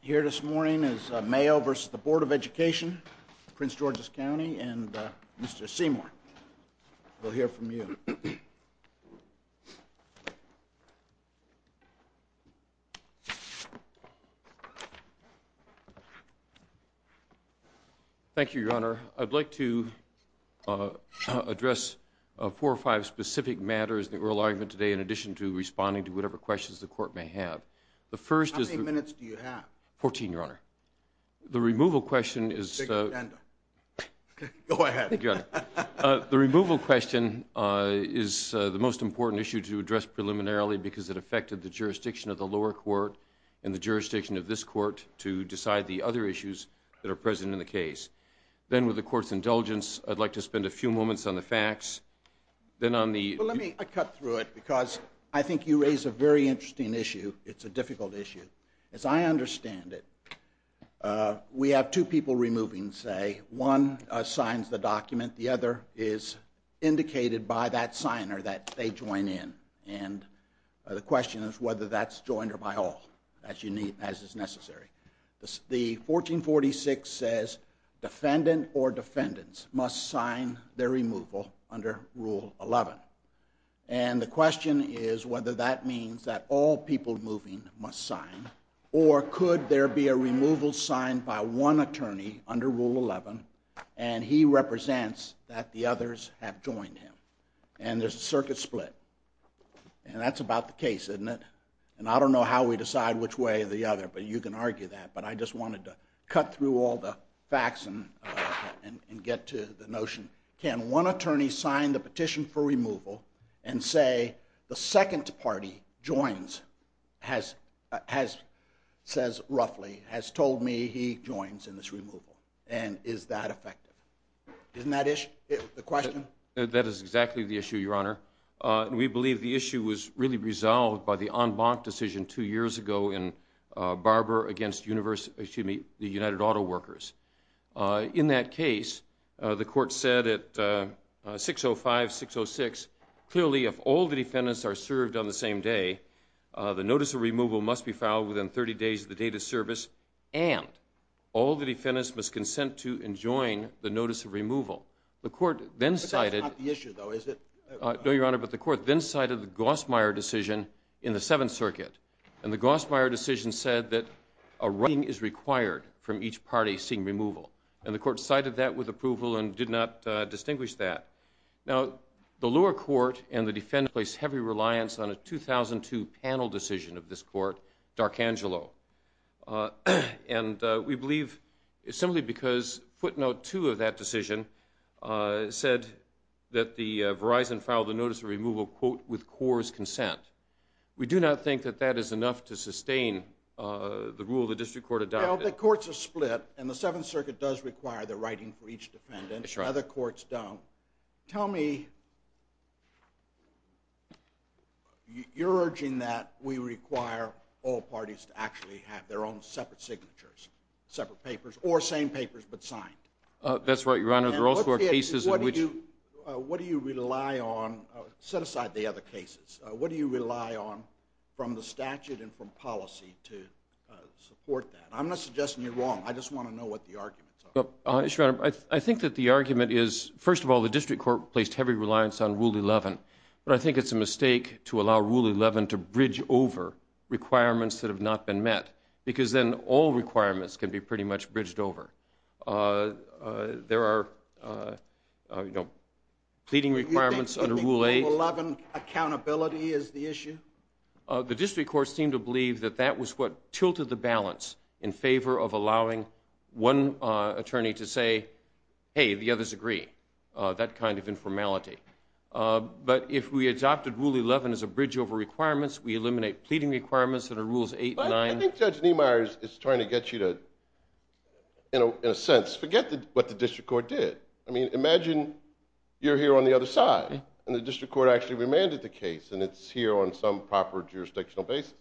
Here this morning is Mayo v. Board of Education, Prince George's County, and Mr. Seymour. We'll hear from you. Thank you, Your Honor. I'd like to address four or five specific matters in the oral argument today in addition to responding to whatever questions the Court may have. How many minutes do you have? Fourteen, Your Honor. The removal question is... Go ahead. The removal question is the most important issue to address preliminarily because it affected the jurisdiction of the lower court and the jurisdiction of this court to decide the other issues that are present in the case. Then with the Court's indulgence, I'd like to spend a few moments on the facts. Well, let me cut through it because I think you raise a very interesting issue. It's a difficult issue. As I understand it, we have two people removing, say. One signs the document. The other is indicated by that signer that they join in. And the question is whether that's joined or by all, as is necessary. The 1446 says defendant or defendants must sign their removal under Rule 11. And the question is whether that means that all people moving must sign or could there be a removal signed by one attorney under Rule 11 and he represents that the others have joined him. And there's a circuit split. And that's about the case, isn't it? And I don't know how we decide which way or the other, but you can argue that. But I just wanted to cut through all the facts and get to the notion. Can one attorney sign the petition for removal and say the second party joins, says roughly, has told me he joins in this removal? And is that effective? Isn't that the question? That is exactly the issue, Your Honor. We believe the issue was really resolved by the en banc decision two years ago in Barber v. United Auto Workers. In that case, the court said at 605-606, clearly if all the defendants are served on the same day, the notice of removal must be filed within 30 days of the date of service and all the defendants must consent to and join the notice of removal. But that's not the issue, though, is it? No, Your Honor, but the court then cited the Gossmeier decision in the Seventh Circuit. And the Gossmeier decision said that a writing is required from each party seeing removal. And the court cited that with approval and did not distinguish that. Now, the lower court and the defendants placed heavy reliance on a 2002 panel decision of this court, D'Arcangelo. And we believe simply because footnote two of that decision said that the Verizon filed a notice of removal, quote, with CORE's consent. We do not think that that is enough to sustain the rule the district court adopted. Now, the courts are split, and the Seventh Circuit does require the writing for each defendant. That's right. Other courts don't. Tell me, you're urging that we require all parties to actually have their own separate signatures, separate papers, or same papers but signed. That's right, Your Honor. There are also cases in which. What do you rely on? Set aside the other cases. What do you rely on from the statute and from policy to support that? I'm not suggesting you're wrong. I just want to know what the arguments are. Your Honor, I think that the argument is, first of all, the district court placed heavy reliance on Rule 11. But I think it's a mistake to allow Rule 11 to bridge over requirements that have not been met because then all requirements can be pretty much bridged over. There are pleading requirements under Rule 8. Do you think Rule 11 accountability is the issue? The district courts seem to believe that that was what tilted the balance in favor of allowing one attorney to say, hey, the others agree. That kind of informality. But if we adopted Rule 11 as a bridge over requirements, we eliminate pleading requirements under Rules 8 and 9. I think Judge Niemeyer is trying to get you to, in a sense, forget what the district court did. I mean, imagine you're here on the other side. And the district court actually remanded the case. And it's here on some proper jurisdictional basis.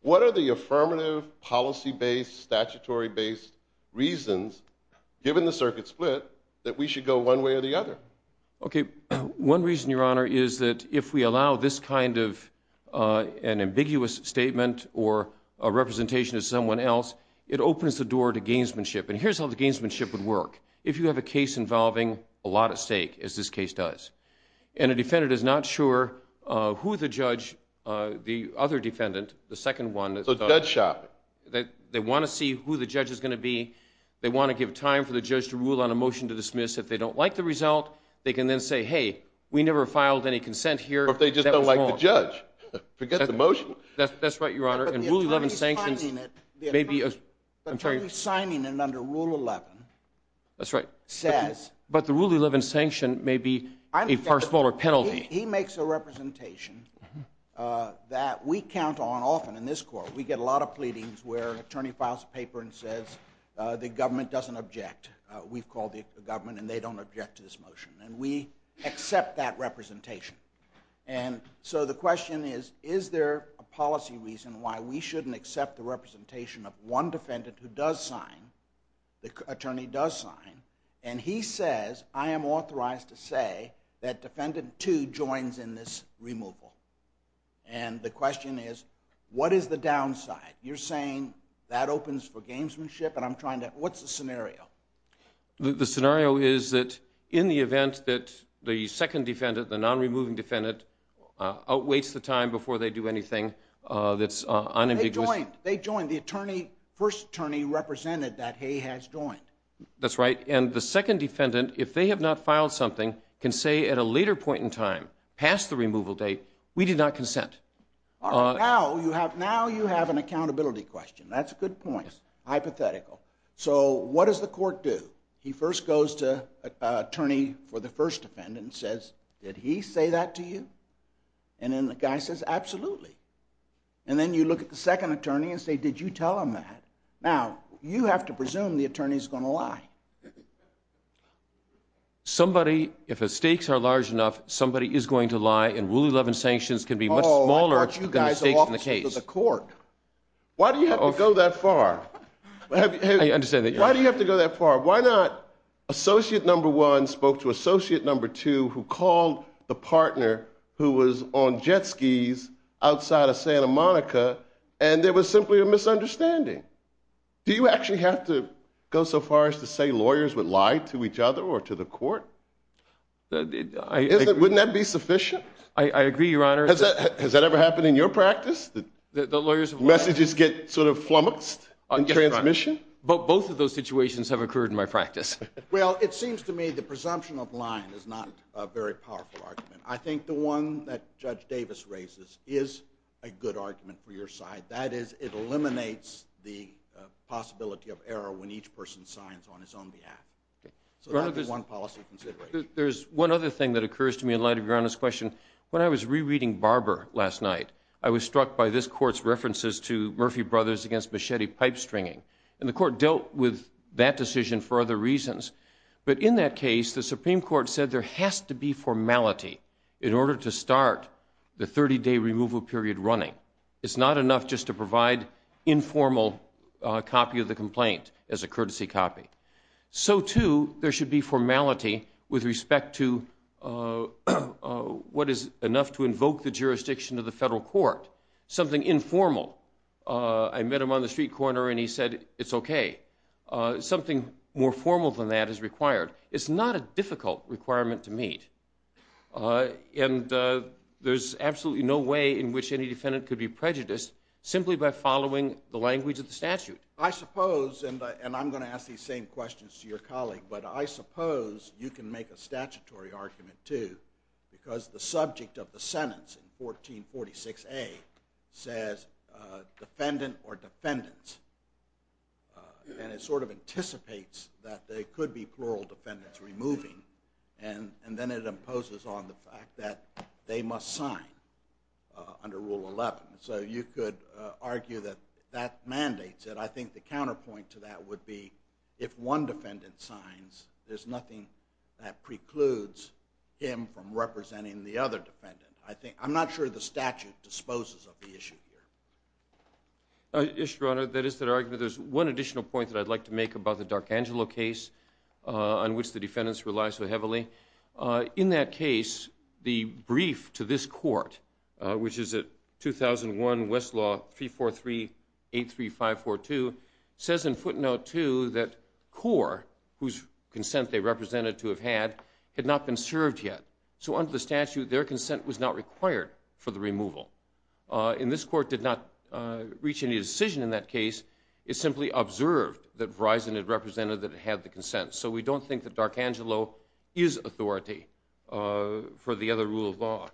What are the affirmative policy-based, statutory-based reasons, given the circuit split, that we should go one way or the other? Okay. One reason, Your Honor, is that if we allow this kind of an ambiguous statement or a representation of someone else, it opens the door to gamesmanship. And here's how the gamesmanship would work. If you have a case involving a lot at stake, as this case does, and a defendant is not sure who the judge, the other defendant, the second one. So judge shopping. They want to see who the judge is going to be. They want to give time for the judge to rule on a motion to dismiss. If they don't like the result, they can then say, hey, we never filed any consent here. Or if they just don't like the judge. Forget the motion. That's right, Your Honor. But the attorney signing it under Rule 11 says. But the Rule 11 sanction may be a far smaller penalty. He makes a representation that we count on often in this court. We get a lot of pleadings where an attorney files a paper and says the government doesn't object. We've called the government and they don't object to this motion. And we accept that representation. And so the question is, is there a policy reason why we shouldn't accept the representation of one defendant who does sign, the attorney does sign. And he says, I am authorized to say that defendant two joins in this removal. And the question is, what is the downside? You're saying that opens for gamesmanship and I'm trying to, what's the scenario? The scenario is that in the event that the second defendant, the non-removing defendant, outweighs the time before they do anything that's unambiguous. They joined. They joined. The attorney, first attorney represented that he has joined. That's right. And the second defendant, if they have not filed something, can say at a later point in time, past the removal date, we did not consent. Now you have an accountability question. That's a good point. Hypothetical. So what does the court do? He first goes to attorney for the first defendant and says, did he say that to you? And then the guy says, absolutely. And then you look at the second attorney and say, did you tell him that? Now, you have to presume the attorney is going to lie. Somebody, if the stakes are large enough, somebody is going to lie and Rule 11 sanctions can be much smaller than the stakes of the case. Why do you have to go that far? I understand that. Why do you have to go that far? Why not associate number one spoke to associate number two who called the partner who was on jet skis outside of Santa Monica and there was simply a misunderstanding? Do you actually have to go so far as to say lawyers would lie to each other or to the court? Wouldn't that be sufficient? I agree, Your Honor. Has that ever happened in your practice? Messages get sort of flummoxed in transmission? Both of those situations have occurred in my practice. Well, it seems to me the presumption of lying is not a very powerful argument. I think the one that Judge Davis raises is a good argument for your side. That is, it eliminates the possibility of error when each person signs on his own behalf. So that would be one policy consideration. I think there's one other thing that occurs to me in light of Your Honor's question. When I was rereading Barber last night, I was struck by this court's references to Murphy Brothers against machete pipe stringing. And the court dealt with that decision for other reasons. But in that case, the Supreme Court said there has to be formality in order to start the 30-day removal period running. It's not enough just to provide informal copy of the complaint as a courtesy copy. So, too, there should be formality with respect to what is enough to invoke the jurisdiction of the federal court. Something informal. I met him on the street corner, and he said it's okay. Something more formal than that is required. It's not a difficult requirement to meet. And there's absolutely no way in which any defendant could be prejudiced simply by following the language of the statute. I suppose, and I'm going to ask these same questions to your colleague, but I suppose you can make a statutory argument, too, because the subject of the sentence in 1446A says defendant or defendants. And it sort of anticipates that there could be plural defendants removing. And then it imposes on the fact that they must sign under Rule 11. So you could argue that that mandates it. I think the counterpoint to that would be if one defendant signs, there's nothing that precludes him from representing the other defendant. I'm not sure the statute disposes of the issue here. Yes, Your Honor. That is the argument. There's one additional point that I'd like to make about the D'Arcangelo case on which the defendants rely so heavily. In that case, the brief to this court, which is at 2001 Westlaw 34383542, says in footnote 2 that Core, whose consent they represented to have had, had not been served yet. So under the statute, their consent was not required for the removal. And this court did not reach any decision in that case. It simply observed that Verizon had represented that it had the consent. So we don't think that D'Arcangelo is authority for the other rule of law.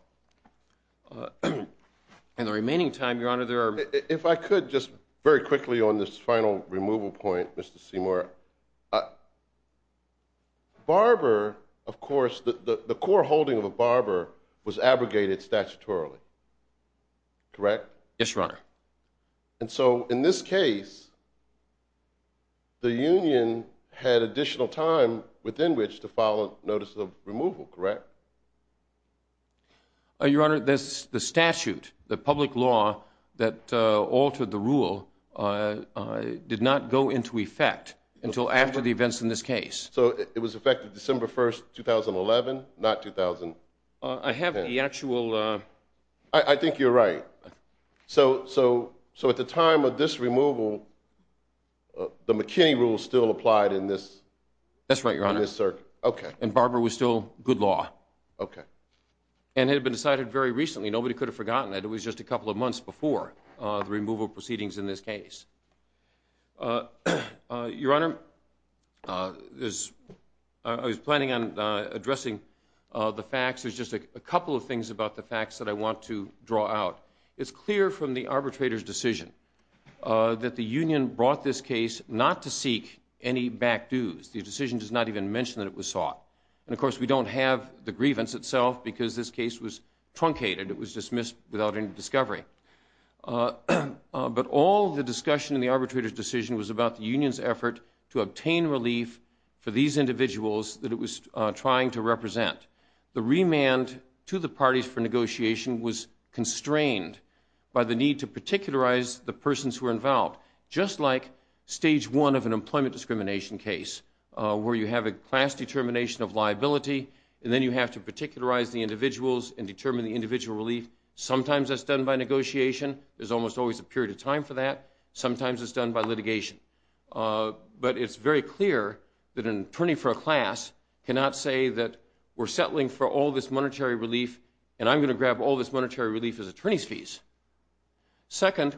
In the remaining time, Your Honor, there are... If I could just very quickly on this final removal point, Mr. Seymour. Barber, of course, the core holding of a barber was abrogated statutorily. Correct? Yes, Your Honor. And so in this case, the union had additional time within which to file a notice of removal, correct? Your Honor, the statute, the public law that altered the rule, did not go into effect until after the events in this case. So it was effective December 1, 2011, not 2010? I have the actual... I think you're right. So at the time of this removal, the McKinney rule still applied in this circuit? That's right, Your Honor. Okay. And barber was still good law. Okay. And it had been decided very recently. Nobody could have forgotten it. It was just a couple of months before the removal proceedings in this case. Your Honor, I was planning on addressing the facts. There's just a couple of things about the facts that I want to draw out. It's clear from the arbitrator's decision that the union brought this case not to seek any back dues. The decision does not even mention that it was sought. And, of course, we don't have the grievance itself because this case was truncated. It was dismissed without any discovery. But all the discussion in the arbitrator's decision was about the union's effort to obtain relief for these individuals that it was trying to represent. The remand to the parties for negotiation was constrained by the need to particularize the persons who were involved, just like stage one of an employment discrimination case where you have a class determination of liability and then you have to particularize the individuals and determine the individual relief. Sometimes that's done by negotiation. There's almost always a period of time for that. Sometimes it's done by litigation. But it's very clear that an attorney for a class cannot say that we're settling for all this monetary relief and I'm going to grab all this monetary relief as attorney's fees. Second,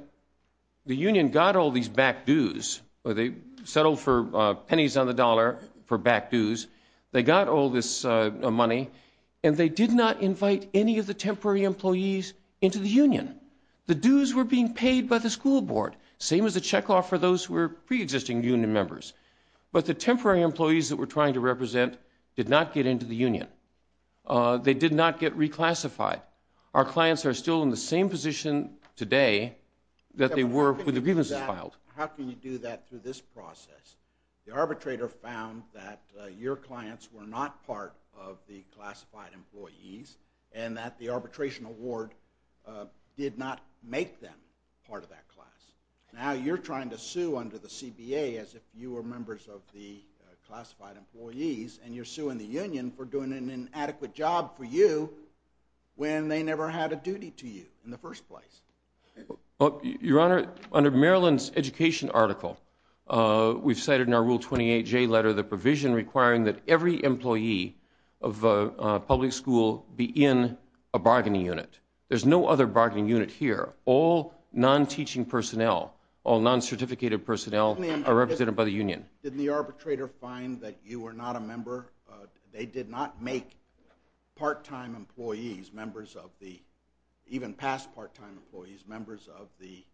the union got all these back dues. They settled for pennies on the dollar for back dues. They got all this money and they did not invite any of the temporary employees into the union. The dues were being paid by the school board. Same as the check off for those who were preexisting union members. But the temporary employees that we're trying to represent did not get into the union. They did not get reclassified. Our clients are still in the same position today that they were when the grievance was filed. How can you do that through this process? The arbitrator found that your clients were not part of the classified employees and that the arbitration award did not make them part of that class. Now you're trying to sue under the CBA as if you were members of the classified employees and you're suing the union for doing an inadequate job for you when they never had a duty to you in the first place. Your Honor, under Maryland's education article, we've cited in our Rule 28J letter the provision requiring that every employee of a public school be in a bargaining unit. There's no other bargaining unit here. All non-teaching personnel, all non-certificated personnel are represented by the union. Did the arbitrator find that you were not a member? They did not make part-time employees, even past part-time employees, members of the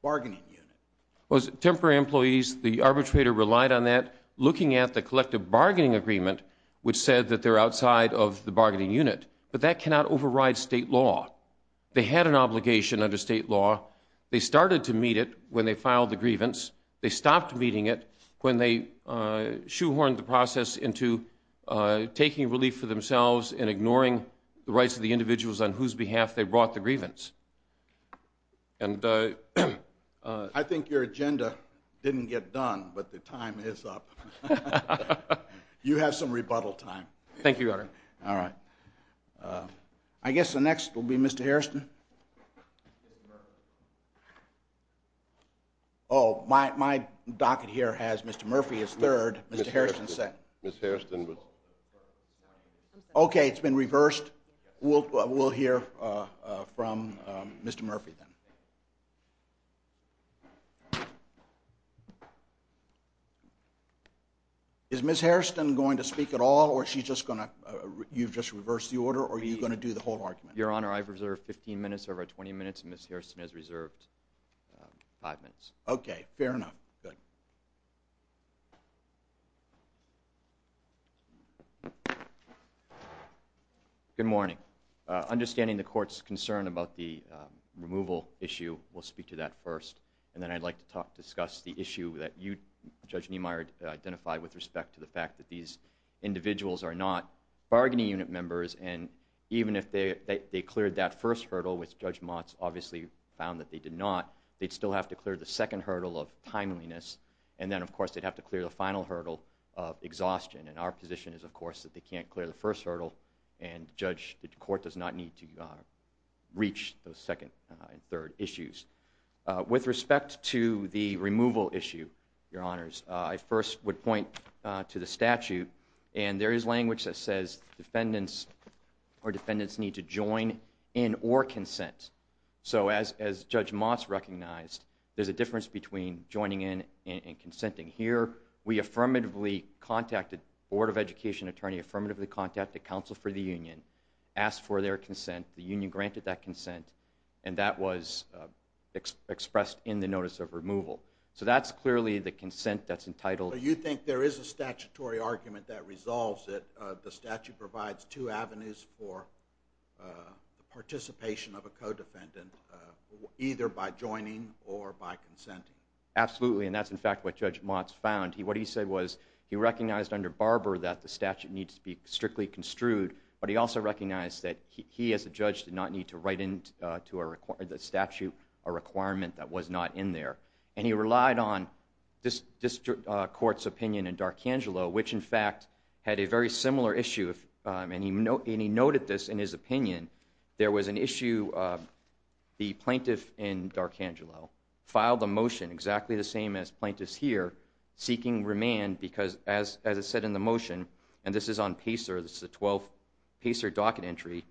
bargaining unit. Temporary employees, the arbitrator relied on that looking at the collective bargaining agreement which said that they're outside of the bargaining unit, but that cannot override state law. They had an obligation under state law. They started to meet it when they filed the grievance. They stopped meeting it when they shoehorned the process into taking relief for themselves and ignoring the rights of the individuals on whose behalf they brought the grievance. I think your agenda didn't get done, but the time is up. You have some rebuttal time. Thank you, Your Honor. All right. I guess the next will be Mr. Harrison. Oh, my docket here has Mr. Murphy as third, Mr. Harrison second. Ms. Harrison was first. Okay, it's been reversed. We'll hear from Mr. Murphy then. Is Ms. Harrison going to speak at all, or you've just reversed the order, or are you going to do the whole argument? Your Honor, I've reserved 15 minutes over 20 minutes, and Ms. Harrison has reserved five minutes. Okay, fair enough. Go ahead. Good morning. Understanding the Court's concern about the removal issue, we'll speak to that first, and then I'd like to discuss the issue that you, Judge Niemeyer, identified with respect to the fact that these individuals are not bargaining unit members, and even if they cleared that first hurdle, which Judge Motz obviously found that they did not, they'd still have to clear the second hurdle of timeliness, and then, of course, they'd have to clear the final hurdle of exhaustion, and our position is, of course, that they can't clear the first hurdle, and the Court does not need to reach those second and third issues. With respect to the removal issue, Your Honors, I first would point to the statute, and there is language that says defendants need to join in or consent. So as Judge Motz recognized, there's a difference between joining in and consenting. Here, we affirmatively contacted the Board of Education attorney, affirmatively contacted counsel for the union, asked for their consent, the union granted that consent, and that was expressed in the notice of removal. So that's clearly the consent that's entitled. So you think there is a statutory argument that resolves it, that the statute provides two avenues for participation of a co-defendant, either by joining or by consenting? Absolutely, and that's, in fact, what Judge Motz found. What he said was he recognized under Barber that the statute needs to be strictly construed, but he also recognized that he, as a judge, did not need to write into the statute a requirement that was not in there, and he relied on this Court's opinion in D'Archangelo, which, in fact, had a very similar issue, and he noted this in his opinion. There was an issue of the plaintiff in D'Archangelo filed a motion exactly the same as plaintiffs here, seeking remand because, as it said in the motion, and this is on PACER, this is a PACER docket entry,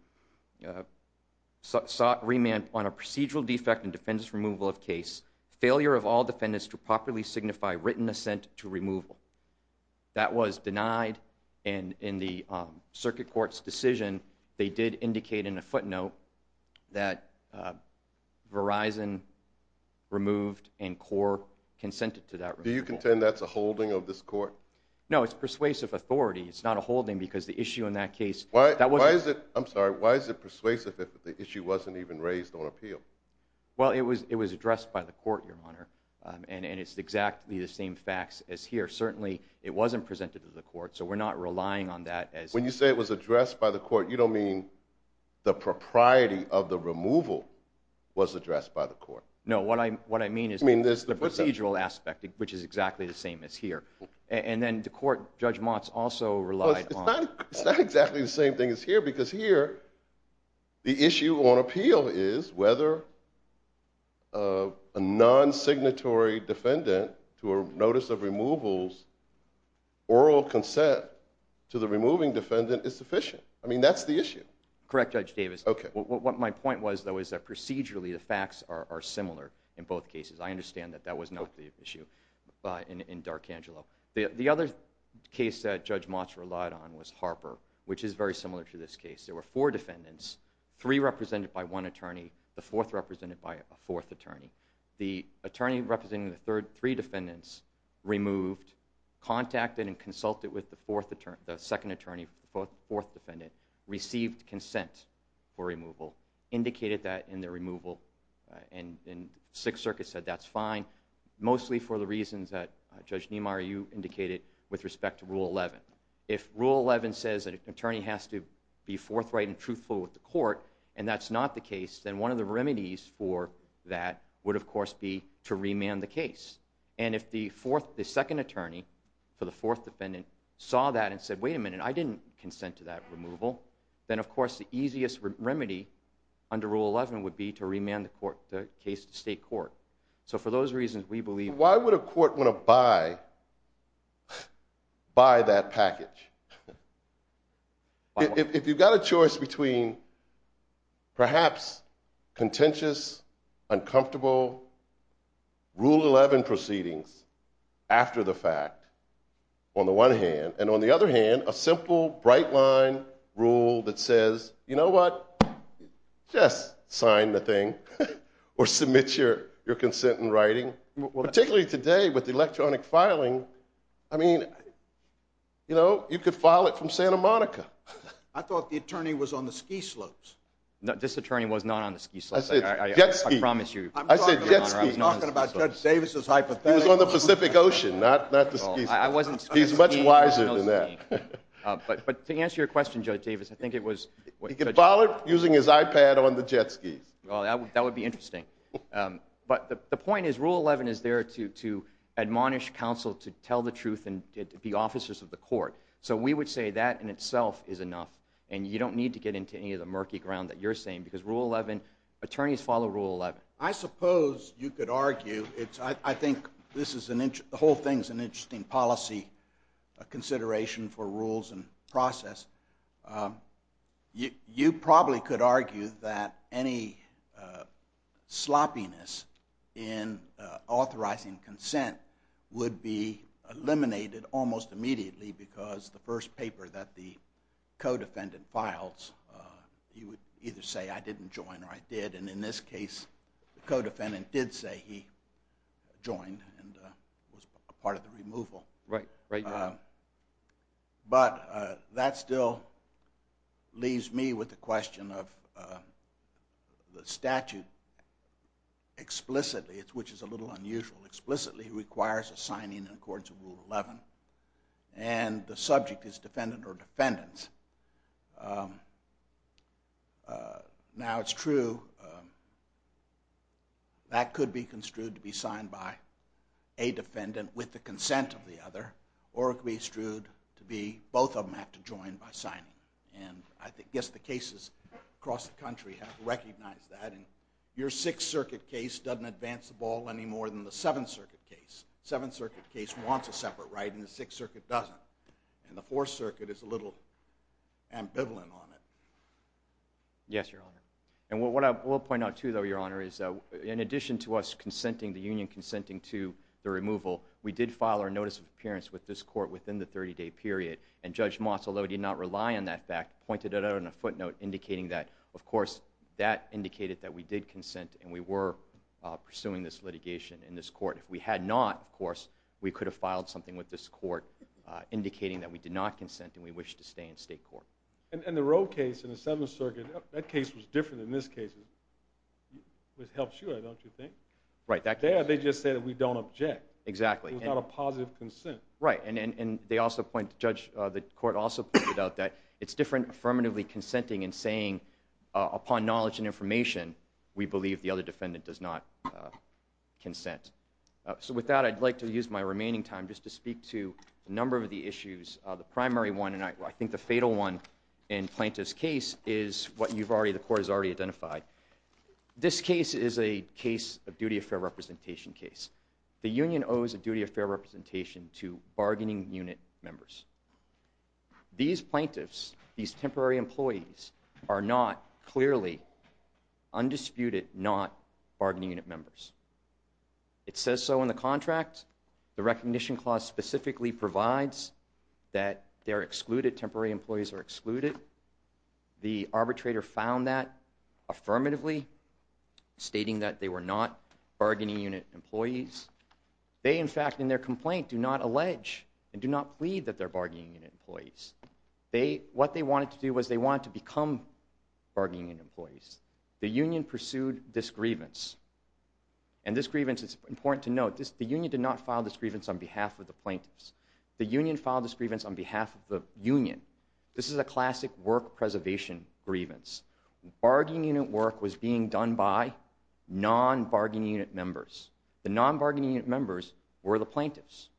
sought remand on a procedural defect in defendant's removal of case, failure of all defendants to properly signify written assent to removal. That was denied, and in the Circuit Court's decision, they did indicate in a footnote that Verizon removed and CORE consented to that removal. Do you contend that's a holding of this Court? No, it's persuasive authority. It's not a holding because the issue in that case... Why is it persuasive if the issue wasn't even raised on appeal? Well, it was addressed by the Court, Your Honor, and it's exactly the same facts as here. Certainly, it wasn't presented to the Court, so we're not relying on that as... When you say it was addressed by the Court, you don't mean the propriety of the removal was addressed by the Court. No, what I mean is the procedural aspect, which is exactly the same as here. And then the Court, Judge Motz also relied on... It's not exactly the same thing as here because here the issue on appeal is whether a non-signatory defendant to a notice of removal's oral consent to the removing defendant is sufficient. I mean, that's the issue. Correct, Judge Davis. Okay. What my point was, though, is that procedurally the facts are similar in both cases. I understand that that was not the issue in D'Arcangelo. The other case that Judge Motz relied on was Harper, which is very similar to this case. There were four defendants, three represented by one attorney, the fourth represented by a fourth attorney. The attorney representing the three defendants removed, contacted and consulted with the second attorney for the fourth defendant, received consent for removal, indicated that in their removal, and Sixth Circuit said that's fine, mostly for the reasons that Judge Niemeyer, you indicated, with respect to Rule 11. If Rule 11 says that an attorney has to be forthright and truthful with the court and that's not the case, then one of the remedies for that would, of course, be to remand the case. And if the second attorney for the fourth defendant saw that and said, wait a minute, I didn't consent to that removal, then, of course, the easiest remedy under Rule 11 would be to remand the case to state court. So for those reasons, we believe... Why would a court want to buy that package? If you've got a choice between perhaps contentious, uncomfortable Rule 11 proceedings after the fact, on the one hand, and on the other hand, a simple, bright-line rule that says, you know what, just sign the thing or submit your consent in writing. Particularly today, with electronic filing, I mean, you know, you could file it from Santa Monica. I thought the attorney was on the ski slopes. No, this attorney was not on the ski slopes. I said jet ski. I promise you, Your Honor, I was not on the ski slopes. I'm talking about Judge Davis's hypothetical. He was on the Pacific Ocean, not the ski slopes. He's much wiser than that. But to answer your question, Judge Davis, I think it was... He could file it using his iPad on the jet skis. Well, that would be interesting. But the point is Rule 11 is there to admonish counsel to tell the truth and to be officers of the court. So we would say that in itself is enough, and you don't need to get into any of the murky ground that you're saying, because Rule 11, attorneys follow Rule 11. I suppose you could argue, I think the whole thing is an interesting policy consideration for rules and process. You probably could argue that any sloppiness in authorizing consent would be eliminated almost immediately because the first paper that the co-defendant files, you would either say I didn't join or I did. And in this case, the co-defendant did say he joined and was part of the removal. Right, right. But that still leaves me with the question of the statute explicitly, which is a little unusual, explicitly requires a signing in accordance with Rule 11. And the subject is defendant or defendants. Now, it's true that could be construed to be signed by a defendant with the consent of the other, or it could be construed to be both of them have to join by signing. And I guess the cases across the country have recognized that. And your Sixth Circuit case doesn't advance the ball any more than the Seventh Circuit case. Seventh Circuit case wants a separate right, and the Sixth Circuit doesn't. And the Fourth Circuit is a little ambivalent on it. Yes, Your Honor. And what I will point out, too, though, Your Honor, is in addition to us consenting, the union consenting to the removal, we did file our notice of appearance with this court within the 30-day period. And Judge Moss, although he did not rely on that fact, pointed it out in a footnote indicating that, of course, that indicated that we did consent and we were pursuing this litigation in this court. If we had not, of course, we could have filed something with this court indicating that we did not consent and we wish to stay in state court. And the Roe case in the Seventh Circuit, that case was different than this case, which helps you, I don't you think? Right. There they just say that we don't object. Exactly. Without a positive consent. Right. And they also point, Judge, the court also pointed out that it's different affirmatively consenting and saying upon knowledge and information, we believe the other defendant does not consent. So with that, I'd like to use my remaining time just to speak to a number of the issues. The primary one, and I think the fatal one in Plaintiff's case, is what you've already, the court has already identified. This case is a case of duty of fair representation case. The union owes a duty of fair representation to bargaining unit members. These plaintiffs, these temporary employees, are not clearly undisputed, not bargaining unit members. It says so in the contract. The recognition clause specifically provides that they're excluded, temporary employees are excluded. The arbitrator found that affirmatively, stating that they were not bargaining unit employees. They, in fact, in their complaint, do not allege and do not plead that they're bargaining unit employees. What they wanted to do was they wanted to become bargaining unit employees. The union pursued this grievance. And this grievance is important to note. The union did not file this grievance on behalf of the plaintiffs. The union filed this grievance on behalf of the union. This is a classic work preservation grievance. Bargaining unit work was being done by non-bargaining unit members. The non-bargaining unit members were the plaintiffs.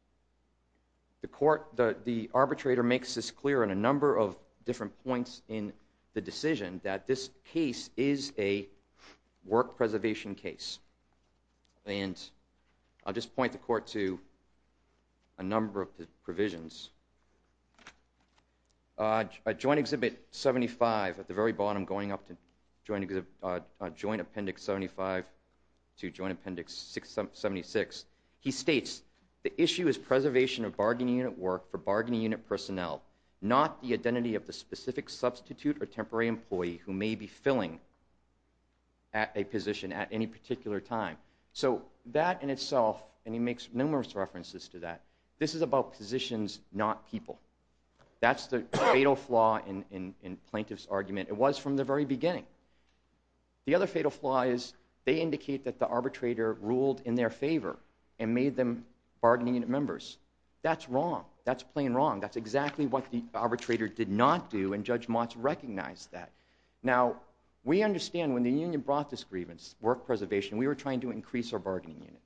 The court, the arbitrator makes this clear in a number of different points in the decision that this case is a work preservation case. And I'll just point the court to a number of the provisions. Joint Exhibit 75, at the very bottom, going up to Joint Appendix 75 to Joint Appendix 76, he states, the issue is preservation of bargaining unit work for bargaining unit personnel, not the identity of the specific substitute or temporary employee who may be filling a position at any particular time. So that in itself, and he makes numerous references to that, this is about positions, not people. That's the fatal flaw in plaintiff's argument. It was from the very beginning. The other fatal flaw is they indicate that the arbitrator ruled in their favor and made them bargaining unit members. That's wrong. That's plain wrong. That's exactly what the arbitrator did not do, and Judge Motz recognized that. Now, we understand when the union brought this grievance, work preservation, we were trying to increase our bargaining unit.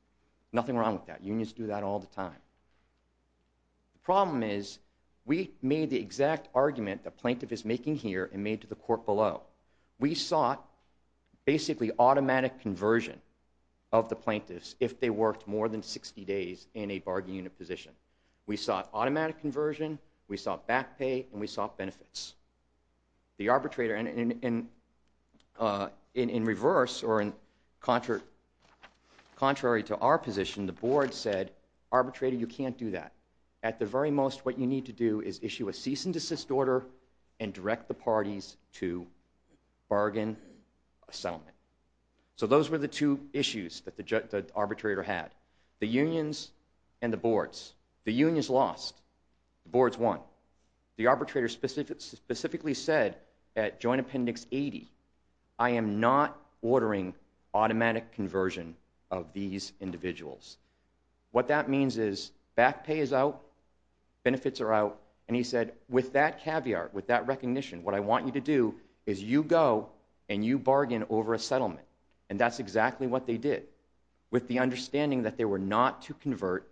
Nothing wrong with that. Unions do that all the time. The problem is we made the exact argument the plaintiff is making here and made to the court below. We sought basically automatic conversion of the plaintiffs if they worked more than 60 days in a bargaining unit position. We sought automatic conversion, we sought back pay, and we sought benefits. The arbitrator, in reverse or contrary to our position, the board said, Arbitrator, you can't do that. At the very most, what you need to do is issue a cease and desist order and direct the parties to bargain a settlement. So those were the two issues that the arbitrator had. The unions and the boards. The unions lost. The boards won. The arbitrator specifically said at Joint Appendix 80, I am not ordering automatic conversion of these individuals. What that means is back pay is out, benefits are out, and he said, With that caviar, with that recognition, what I want you to do is you go and you bargain over a settlement. And that's exactly what they did with the understanding that they were not to convert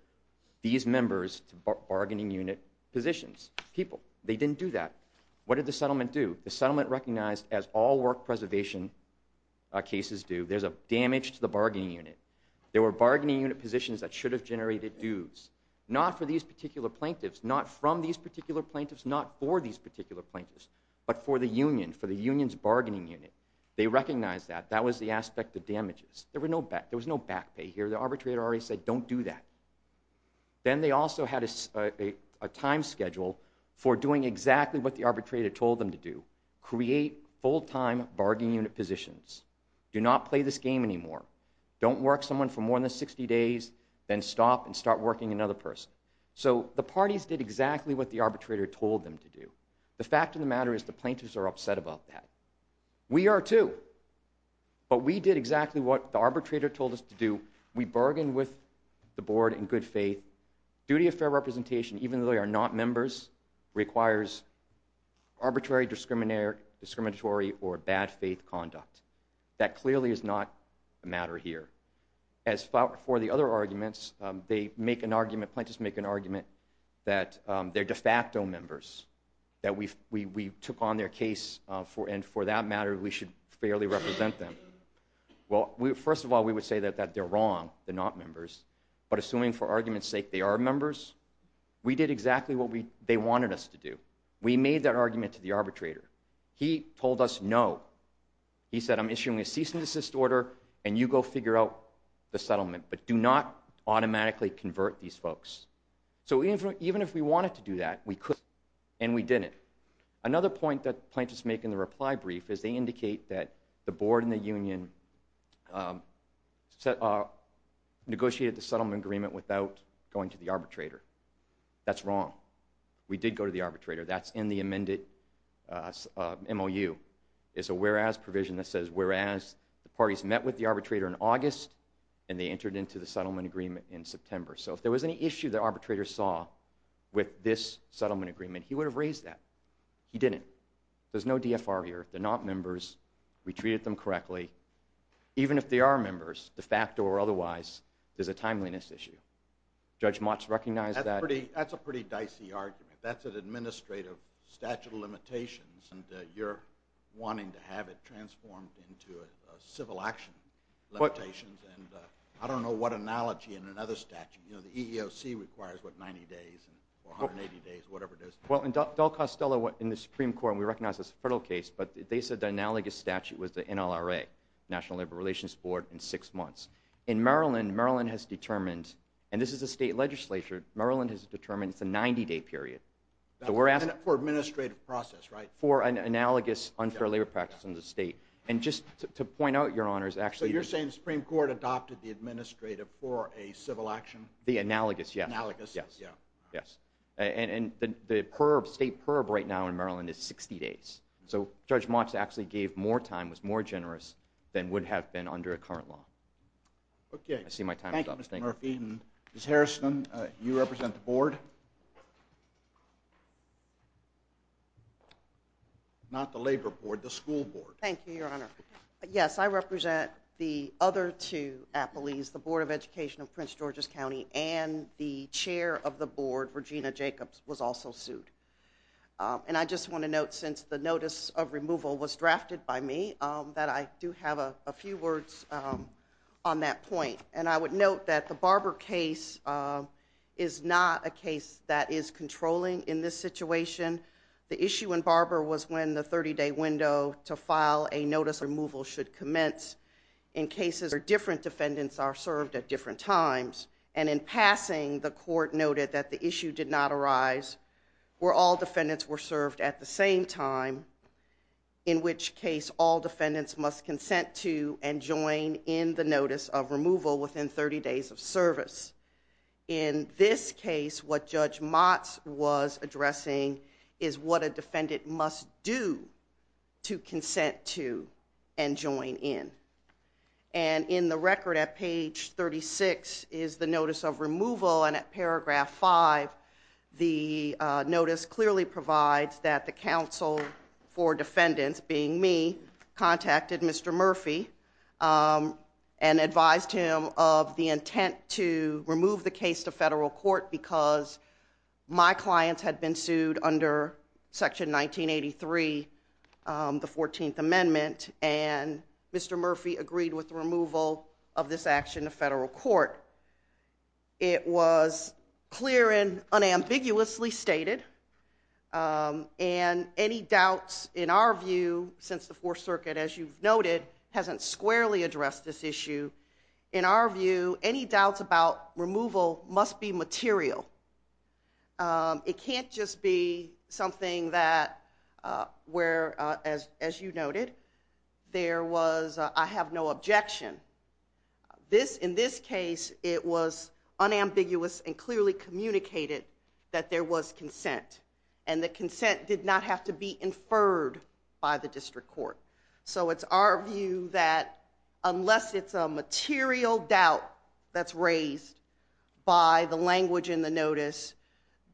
these members to bargaining unit positions. People, they didn't do that. What did the settlement do? The settlement recognized, as all work preservation cases do, there's a damage to the bargaining unit. There were bargaining unit positions that should have generated dues, not for these particular plaintiffs, not from these particular plaintiffs, not for these particular plaintiffs, but for the union, for the union's bargaining unit. They recognized that. That was the aspect of damages. There was no back pay here. The arbitrator already said, don't do that. Then they also had a time schedule for doing exactly what the arbitrator told them to do, create full-time bargaining unit positions. Do not play this game anymore. Don't work someone for more than 60 days, then stop and start working another person. So the parties did exactly what the arbitrator told them to do. The fact of the matter is the plaintiffs are upset about that. We are too. But we did exactly what the arbitrator told us to do. We bargained with the board in good faith. Duty of fair representation, even though they are not members, requires arbitrary discriminatory or bad faith conduct. That clearly is not a matter here. As for the other arguments, they make an argument, plaintiffs make an argument, that they're de facto members, that we took on their case, and for that matter we should fairly represent them. Well, first of all, we would say that they're wrong, they're not members, but assuming for argument's sake they are members, we did exactly what they wanted us to do. We made that argument to the arbitrator. He told us no. He said, I'm issuing a cease and desist order, and you go figure out the settlement, but do not automatically convert these folks. So even if we wanted to do that, we couldn't, and we didn't. Another point that plaintiffs make in the reply brief is they indicate that the board and the union negotiated the settlement agreement without going to the arbitrator. That's wrong. We did go to the arbitrator. That's in the amended MOU. It's a whereas provision that says whereas the parties met with the arbitrator in August, and they entered into the settlement agreement in September. So if there was any issue the arbitrator saw with this settlement agreement, he would have raised that. He didn't. There's no DFR here. They're not members. We treated them correctly. Even if they are members, de facto or otherwise, there's a timeliness issue. Judge Motz recognized that. That's a pretty dicey argument. That's an administrative statute of limitations, and you're wanting to have it transformed into a civil action limitation, and I don't know what analogy in another statute. You know, the EEOC requires, what, 90 days or 180 days, whatever it is. Well, Del Costello in the Supreme Court, and we recognize this is a federal case, but they said the analogous statute was the NLRA, National Labor Relations Board, in six months. In Maryland, Maryland has determined, and this is a state legislature, Maryland has determined it's a 90-day period. For administrative process, right? For an analogous unfair labor practice in the state. And just to point out, Your Honors, actually. So you're saying the Supreme Court adopted the administrative for a civil action? The analogous, yes. Analogous, yeah. Yes. And the state perp right now in Maryland is 60 days. So Judge Motz actually gave more time, was more generous, than would have been under a current law. I see my time is up. Thank you, Mr. Murphy. Ms. Harrison, you represent the board? Not the labor board, the school board. Thank you, Your Honor. Yes, I represent the other two appellees, the Board of Education of Prince George's County, and the chair of the board, Regina Jacobs, was also sued. And I just want to note, since the notice of removal was drafted by me, that I do have a few words on that point. And I would note that the Barber case is not a case that is controlling in this situation. The issue in Barber was when the 30-day window to file a notice of removal should commence in cases where different defendants are served at different times. And in passing, the court noted that the issue did not arise where all defendants were served at the same time, in which case all defendants must consent to and join in the notice of removal within 30 days of service. In this case, what Judge Motz was addressing is what a defendant must do to consent to and join in. And in the record at page 36 is the notice of removal, and at paragraph 5, the notice clearly provides that the counsel for defendants, being me, contacted Mr. Murphy and advised him of the intent to remove the case to federal court because my clients had been sued under Section 1983, the 14th Amendment, and Mr. Murphy agreed with the removal of this action to federal court. It was clear and unambiguously stated, and any doubts, in our view, since the Fourth Circuit, as you've noted, hasn't squarely addressed this issue. In our view, any doubts about removal must be material. It can't just be something that, where, as you noted, there was, I have no objection. In this case, it was unambiguous and clearly communicated that there was consent, and that consent did not have to be inferred by the district court. So it's our view that unless it's a material doubt that's raised by the language in the notice,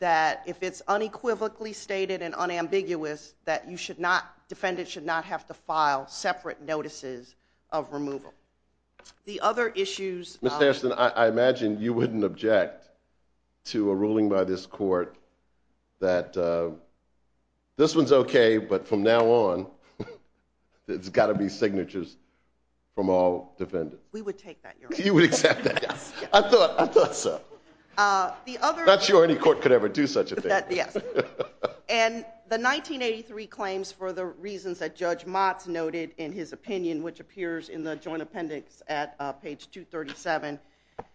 that if it's unequivocally stated and unambiguous, that you should not, defendants should not have to file separate notices of removal. The other issues. Ms. Harrison, I imagine you wouldn't object to a ruling by this court that this one's okay, but from now on, there's gotta be signatures from all defendants. We would take that, Your Honor. You would accept that? Yes. I thought so. Not sure any court could ever do such a thing. Yes. And the 1983 claims, for the reasons that Judge Motz noted in his opinion, which appears in the joint appendix at page 237,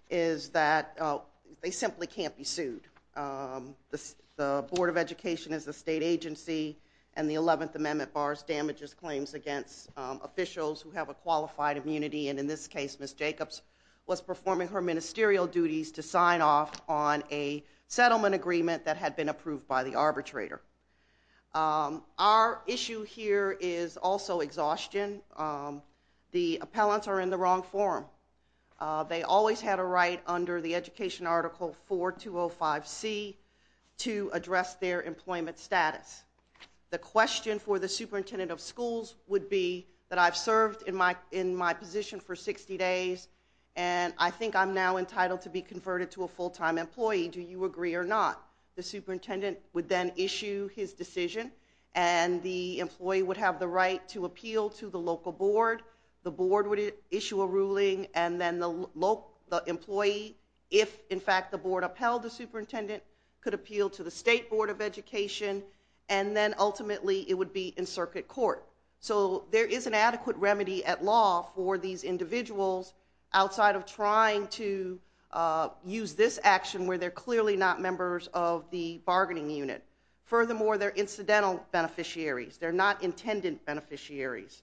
is that they simply can't be sued. The Board of Education is a state agency, and the 11th Amendment bars damages claims against officials who have a qualified immunity, and in this case, Ms. Jacobs was performing her ministerial duties to sign off on a settlement agreement that had been approved by the arbitrator. Our issue here is also exhaustion. The appellants are in the wrong forum. They always had a right under the Education Article 4205C to address their employment status. The question for the superintendent of schools would be that I've served in my position for 60 days, and I think I'm now entitled to be converted to a full-time employee. Do you agree or not? The superintendent would then issue his decision, and the employee would have the right to appeal to the local board. The board would issue a ruling, and then the employee, if in fact the board upheld the superintendent, could appeal to the State Board of Education, and then ultimately it would be in circuit court. So there is an adequate remedy at law for these individuals outside of trying to use this action where they're clearly not members of the bargaining unit. Furthermore, they're incidental beneficiaries. They're not intended beneficiaries.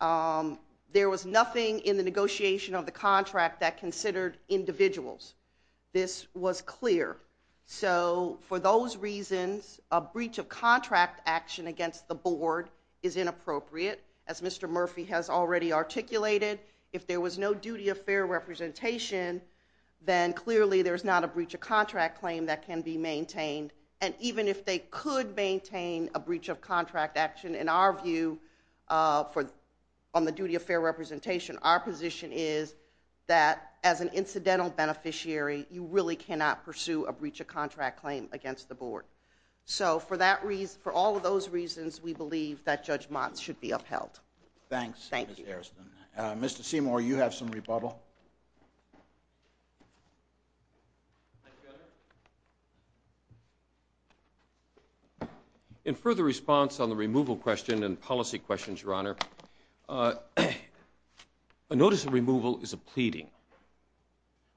There was nothing in the negotiation of the contract that considered individuals. This was clear. So for those reasons, a breach of contract action against the board is inappropriate, as Mr. Murphy has already articulated. If there was no duty of fair representation, then clearly there's not a breach of contract claim that can be maintained. And even if they could maintain a breach of contract action, in our view, on the duty of fair representation, our position is that as an incidental beneficiary, you really cannot pursue a breach of contract claim against the board. So for all of those reasons, we believe that Judge Motz should be upheld. Thanks. Thank you. Mr. Seymour, you have some rebuttal. In further response on the removal question and policy questions, Your Honor, a notice of removal is a pleading.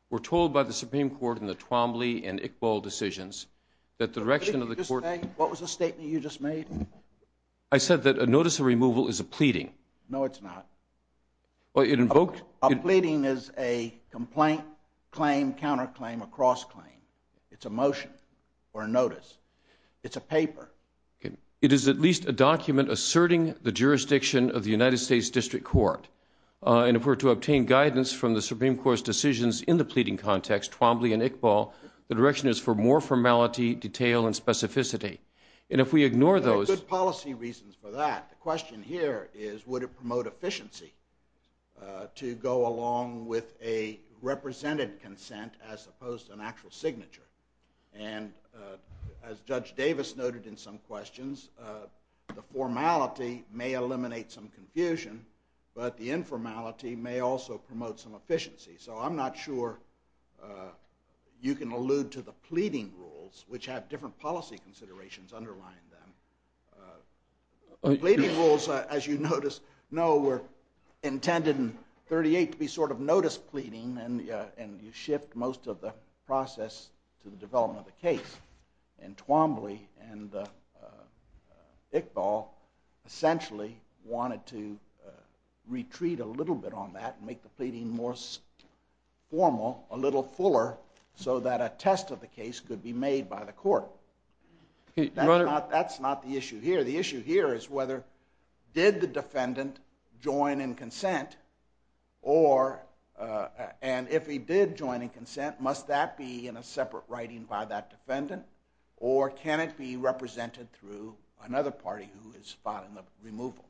We're told by the Supreme Court in the Twombly and Iqbal decisions that the direction of the court... What was the statement you just made? I said that a notice of removal is a pleading. No, it's not. A pleading is a complaint, claim, counterclaim, or cross-claim. It's a motion or a notice. It's a paper. It is at least a document asserting the jurisdiction of the United States District Court. In order to obtain guidance from the Supreme Court's decisions in the pleading context, Twombly and Iqbal, the direction is for more formality, detail, and specificity. And if we ignore those... There are good policy reasons for that. The question here is, would it promote efficiency to go along with a represented consent as opposed to an actual signature? And as Judge Davis noted in some questions, the formality may eliminate some confusion, but the informality may also promote some efficiency. So I'm not sure you can allude to the pleading rules, which have different policy considerations underlying them. The pleading rules, as you notice, were intended in 38 to be sort of notice pleading, and you shift most of the process to the development of the case. And Twombly and Iqbal essentially wanted to retreat a little bit on that and make the pleading more formal, a little fuller, so that a test of the case could be made by the court. That's not the issue here. The issue here is whether did the defendant join in consent, and if he did join in consent, must that be in a separate writing by that defendant, or can it be represented through another party who is spotting the removal?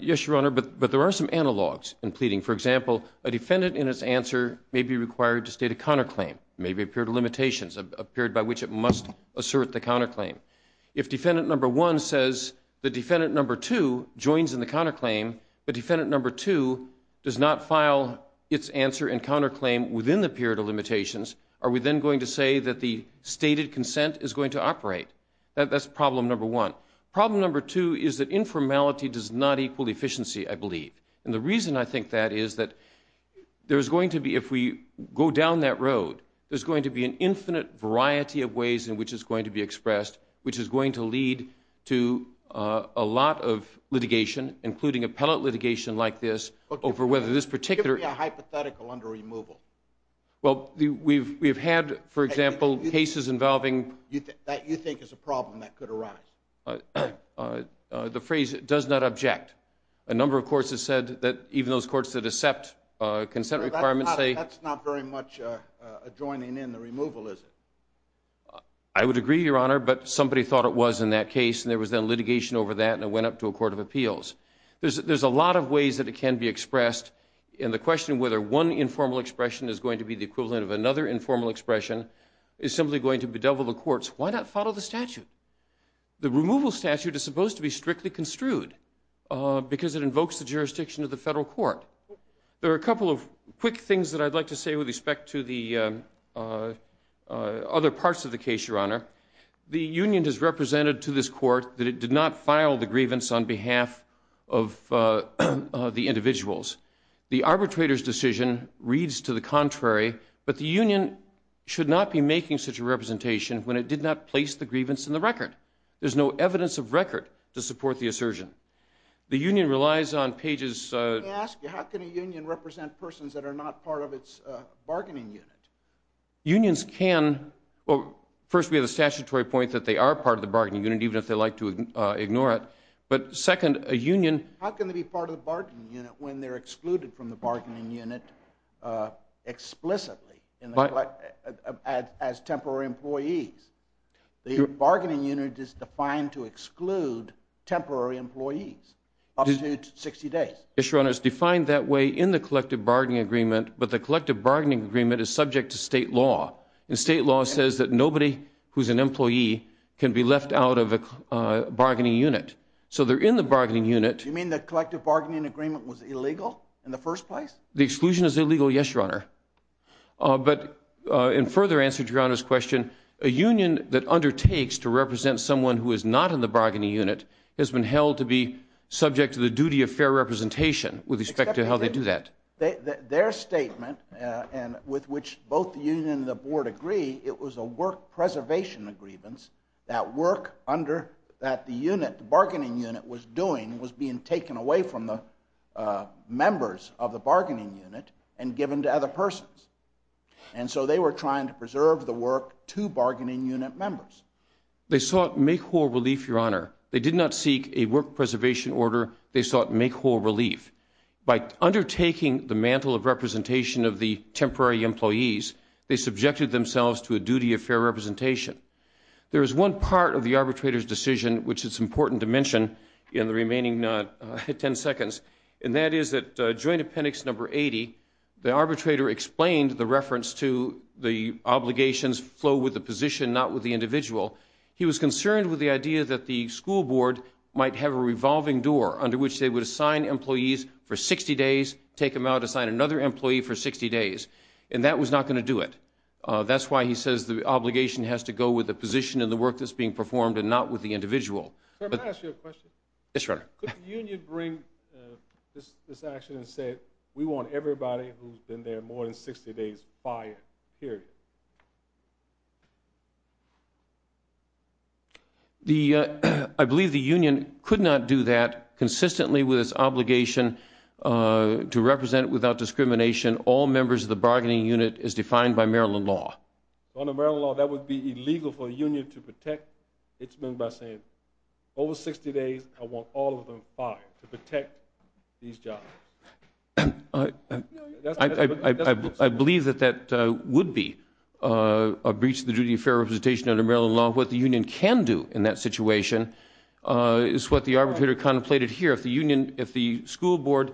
Yes, Your Honor, but there are some analogs in pleading. For example, a defendant in his answer may be required to state a counterclaim, maybe a period of limitations, a period by which it must assert the counterclaim. If defendant number one says the defendant number two joins in the counterclaim, the defendant number two does not file its answer and counterclaim within the period of limitations, are we then going to say that the stated consent is going to operate? That's problem number one. Problem number two is that informality does not equal efficiency, I believe. And the reason I think that is that there's going to be, if we go down that road, there's going to be an infinite variety of ways in which it's going to be expressed, which is going to lead to a lot of litigation, including appellate litigation like this, over whether this particular... Give me a hypothetical under removal. Well, we've had, for example, cases involving... That you think is a problem that could arise. The phrase does not object. A number of courts have said that even those courts that accept consent requirements say... That's not very much adjoining in the removal, is it? I would agree, Your Honor, but somebody thought it was in that case, and there was then litigation over that, and it went up to a court of appeals. There's a lot of ways that it can be expressed, and the question of whether one informal expression is going to be the equivalent of another informal expression is simply going to bedevil the courts. Why not follow the statute? The removal statute is supposed to be strictly construed, because it invokes the jurisdiction of the federal court. There are a couple of quick things that I'd like to say with respect to the other parts of the case, Your Honor. The union has represented to this court that it did not file the grievance on behalf of the individuals. The arbitrator's decision reads to the contrary, but the union should not be making such a representation when it did not place the grievance in the record. There's no evidence of record to support the assertion. The union relies on pages... Let me ask you, how can a union represent persons that are not part of its bargaining unit? Unions can... First, we have a statutory point that they are part of the bargaining unit, even if they like to ignore it, but second, a union... How can they be part of the bargaining unit when they're excluded from the bargaining unit explicitly as temporary employees? The bargaining unit is defined to exclude temporary employees up to 60 days. Yes, Your Honor, it's defined that way in the collective bargaining agreement, but the collective bargaining agreement is subject to state law, and state law says that nobody who's an employee can be left out of a bargaining unit. So they're in the bargaining unit... You mean the collective bargaining agreement was illegal in the first place? The exclusion is illegal, yes, Your Honor. But in further answer to Your Honor's question, a union that undertakes to represent someone who is not in the bargaining unit has been held to be subject to the duty of fair representation with respect to how they do that. Their statement, with which both the union and the board agree, it was a work preservation grievance, that work that the bargaining unit was doing was being taken away from the members of the bargaining unit and given to other persons. And so they were trying to preserve the work to bargaining unit members. They sought make-whole relief, Your Honor. They did not seek a work preservation order. They sought make-whole relief. By undertaking the mantle of representation of the temporary employees, they subjected themselves to a duty of fair representation. There is one part of the arbitrator's decision, which is important to mention in the remaining 10 seconds, and that is that Joint Appendix No. 80, the arbitrator explained the reference to the obligations flow with the position, not with the individual. He was concerned with the idea that the school board might have a revolving door under which they would assign employees for 60 days, take them out, assign another employee for 60 days, and that was not going to do it. That's why he says the obligation has to go with the position and the work that's being performed and not with the individual. Sir, may I ask you a question? Yes, Your Honor. Could the union bring this action and say, we want everybody who's been there more than 60 days fired, period? I believe the union could not do that consistently with its obligation to represent without discrimination all members of the bargaining unit as defined by Maryland law. Under Maryland law, that would be illegal for a union to protect its members by saying, over 60 days, I want all of them fired, to protect these jobs. I believe that that would be a breach of the duty of fair representation under Maryland law. What the union can do in that situation is what the arbitrator contemplated here. If the school board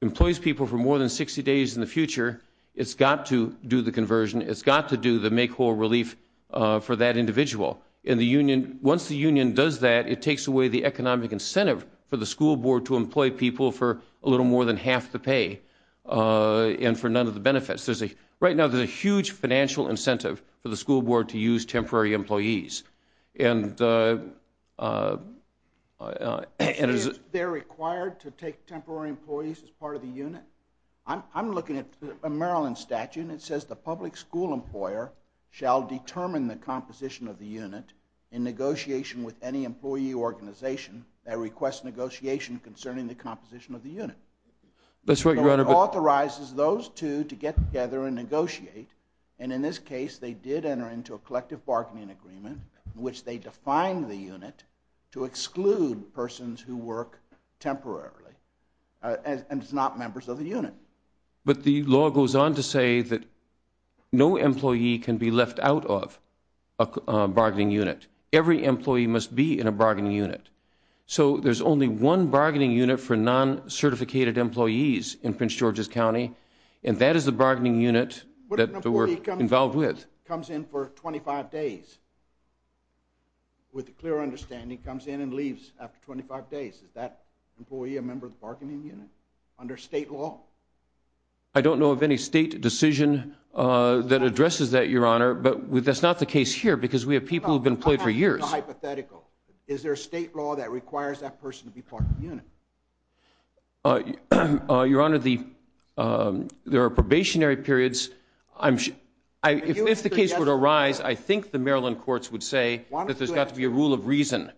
employs people for more than 60 days in the future, it's got to do the conversion. It's got to do the make whole relief for that individual. Once the union does that, it takes away the economic incentive for the school board to employ people for a little more than half the pay and for none of the benefits. Right now, there's a huge financial incentive for the school board to use temporary employees. They're required to take temporary employees as part of the unit? I'm looking at a Maryland statute, and it says the public school employer shall determine the composition of the unit in negotiation with any employee organization that requests negotiation concerning the composition of the unit. It authorizes those two to get together and negotiate, and in this case, they did enter into a collective bargaining agreement in which they defined the unit to exclude persons who work temporarily and is not members of the unit. But the law goes on to say that no employee can be left out of a bargaining unit. Every employee must be in a bargaining unit. So there's only one bargaining unit for non-certificated employees in Prince George's County, and that is the bargaining unit that they were involved with. Comes in for 25 days with a clear understanding, comes in and leaves after 25 days. Is that employee a member of the bargaining unit under state law? I don't know of any state decision that addresses that, Your Honor, but that's not the case here because we have people who have been employed for years. Hypothetical. Is there a state law that requires that person to be part of the unit? Your Honor, there are probationary periods. If the case were to arise, I think the Maryland courts would say that there's got to be a rule of reason.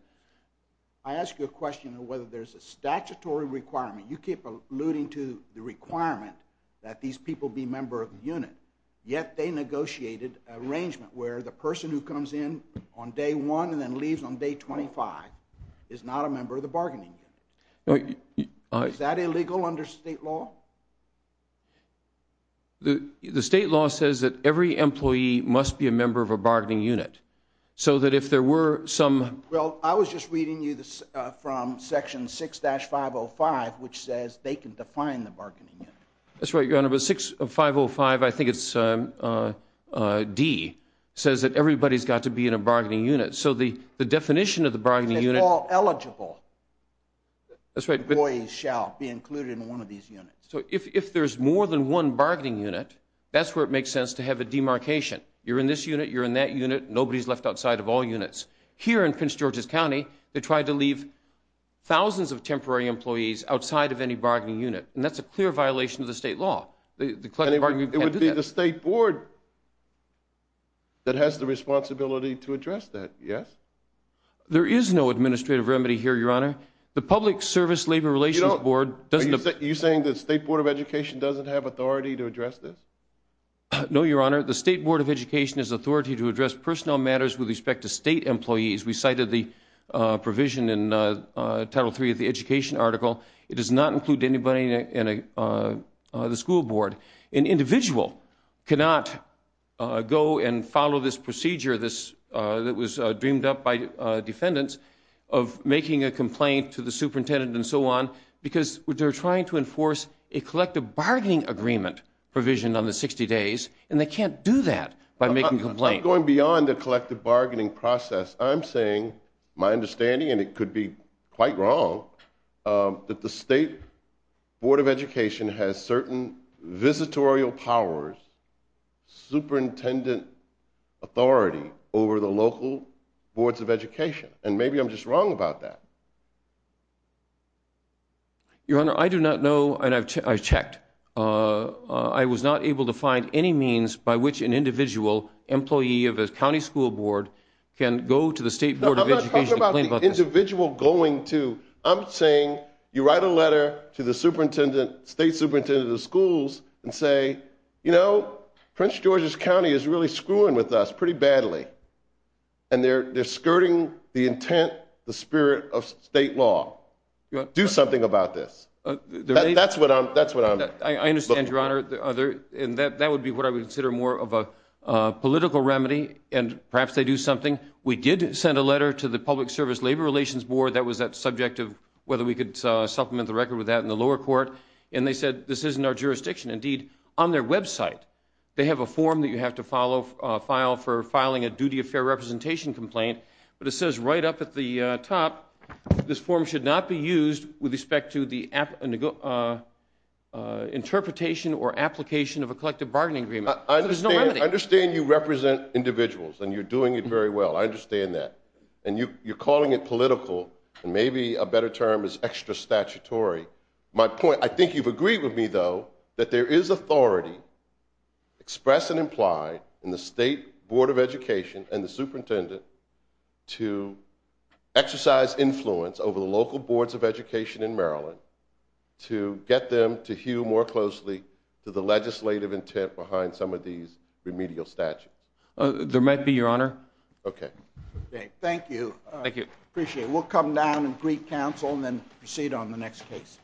I ask you a question of whether there's a statutory requirement. You keep alluding to the requirement that these people be member of the unit, yet they negotiated an arrangement where the person who comes in on day one and then leaves on day 25 is not a member of the bargaining unit. Is that illegal under state law? The state law says that every employee must be a member of a bargaining unit so that if there were some... Well, I was just reading you from Section 6-505, which says they can define the bargaining unit. That's right, Your Honor, but 6-505, I think it's D, says that everybody's got to be in a bargaining unit. So the definition of the bargaining unit... If they're all eligible, employees shall be included in one of these units. So if there's more than one bargaining unit, that's where it makes sense to have a demarcation. You're in this unit, you're in that unit, nobody's left outside of all units. Here in Prince George's County, they tried to leave thousands of temporary employees outside of any bargaining unit, and that's a clear violation of the state law. It would be the state board that has the responsibility to address that, yes? There is no administrative remedy here, Your Honor. The Public Service Labor Relations Board doesn't... Are you saying the State Board of Education doesn't have authority to address this? No, Your Honor. The State Board of Education has authority to address personnel matters with respect to state employees. We cited the provision in Title III of the education article. It does not include anybody in the school board. An individual cannot go and follow this procedure that was dreamed up by defendants of making a complaint to the superintendent and so on because they're trying to enforce a collective bargaining agreement provision on the 60 days, and they can't do that by making a complaint. I'm not going beyond the collective bargaining process. I'm saying my understanding, and it could be quite wrong, that the State Board of Education has certain visitorial powers, superintendent authority over the local boards of education, and maybe I'm just wrong about that. Your Honor, I do not know, and I've checked. I was not able to find any means by which an individual employee of a county school board can go to the State Board of Education and complain about this. No, I'm not talking about the individual going to. I'm saying you write a letter to the superintendent, state superintendent of the schools, and say, you know, Prince George's County is really screwing with us pretty badly, and they're skirting the intent, the spirit of state law. Do something about this. That's what I'm looking for. I understand, Your Honor, and that would be what I would consider more of a political remedy, and perhaps they do something. We did send a letter to the Public Service Labor Relations Board. That was the subject of whether we could supplement the record with that in the lower court, and they said this isn't our jurisdiction. Indeed, on their website they have a form that you have to file for filing a duty of fair representation complaint, but it says right up at the top this form should not be used with respect to the interpretation or application of a collective bargaining agreement. There's no remedy. I understand you represent individuals, and you're doing it very well. I understand that. And you're calling it political, and maybe a better term is extra statutory. I think you've agreed with me, though, that there is authority expressed and implied in the State Board of Education and the superintendent to exercise influence over the local boards of education in Maryland to get them to hew more closely to the legislative intent behind some of these remedial statutes. There might be, Your Honor. Okay. Thank you. Appreciate it. We'll come down and greet counsel and then proceed on the next case.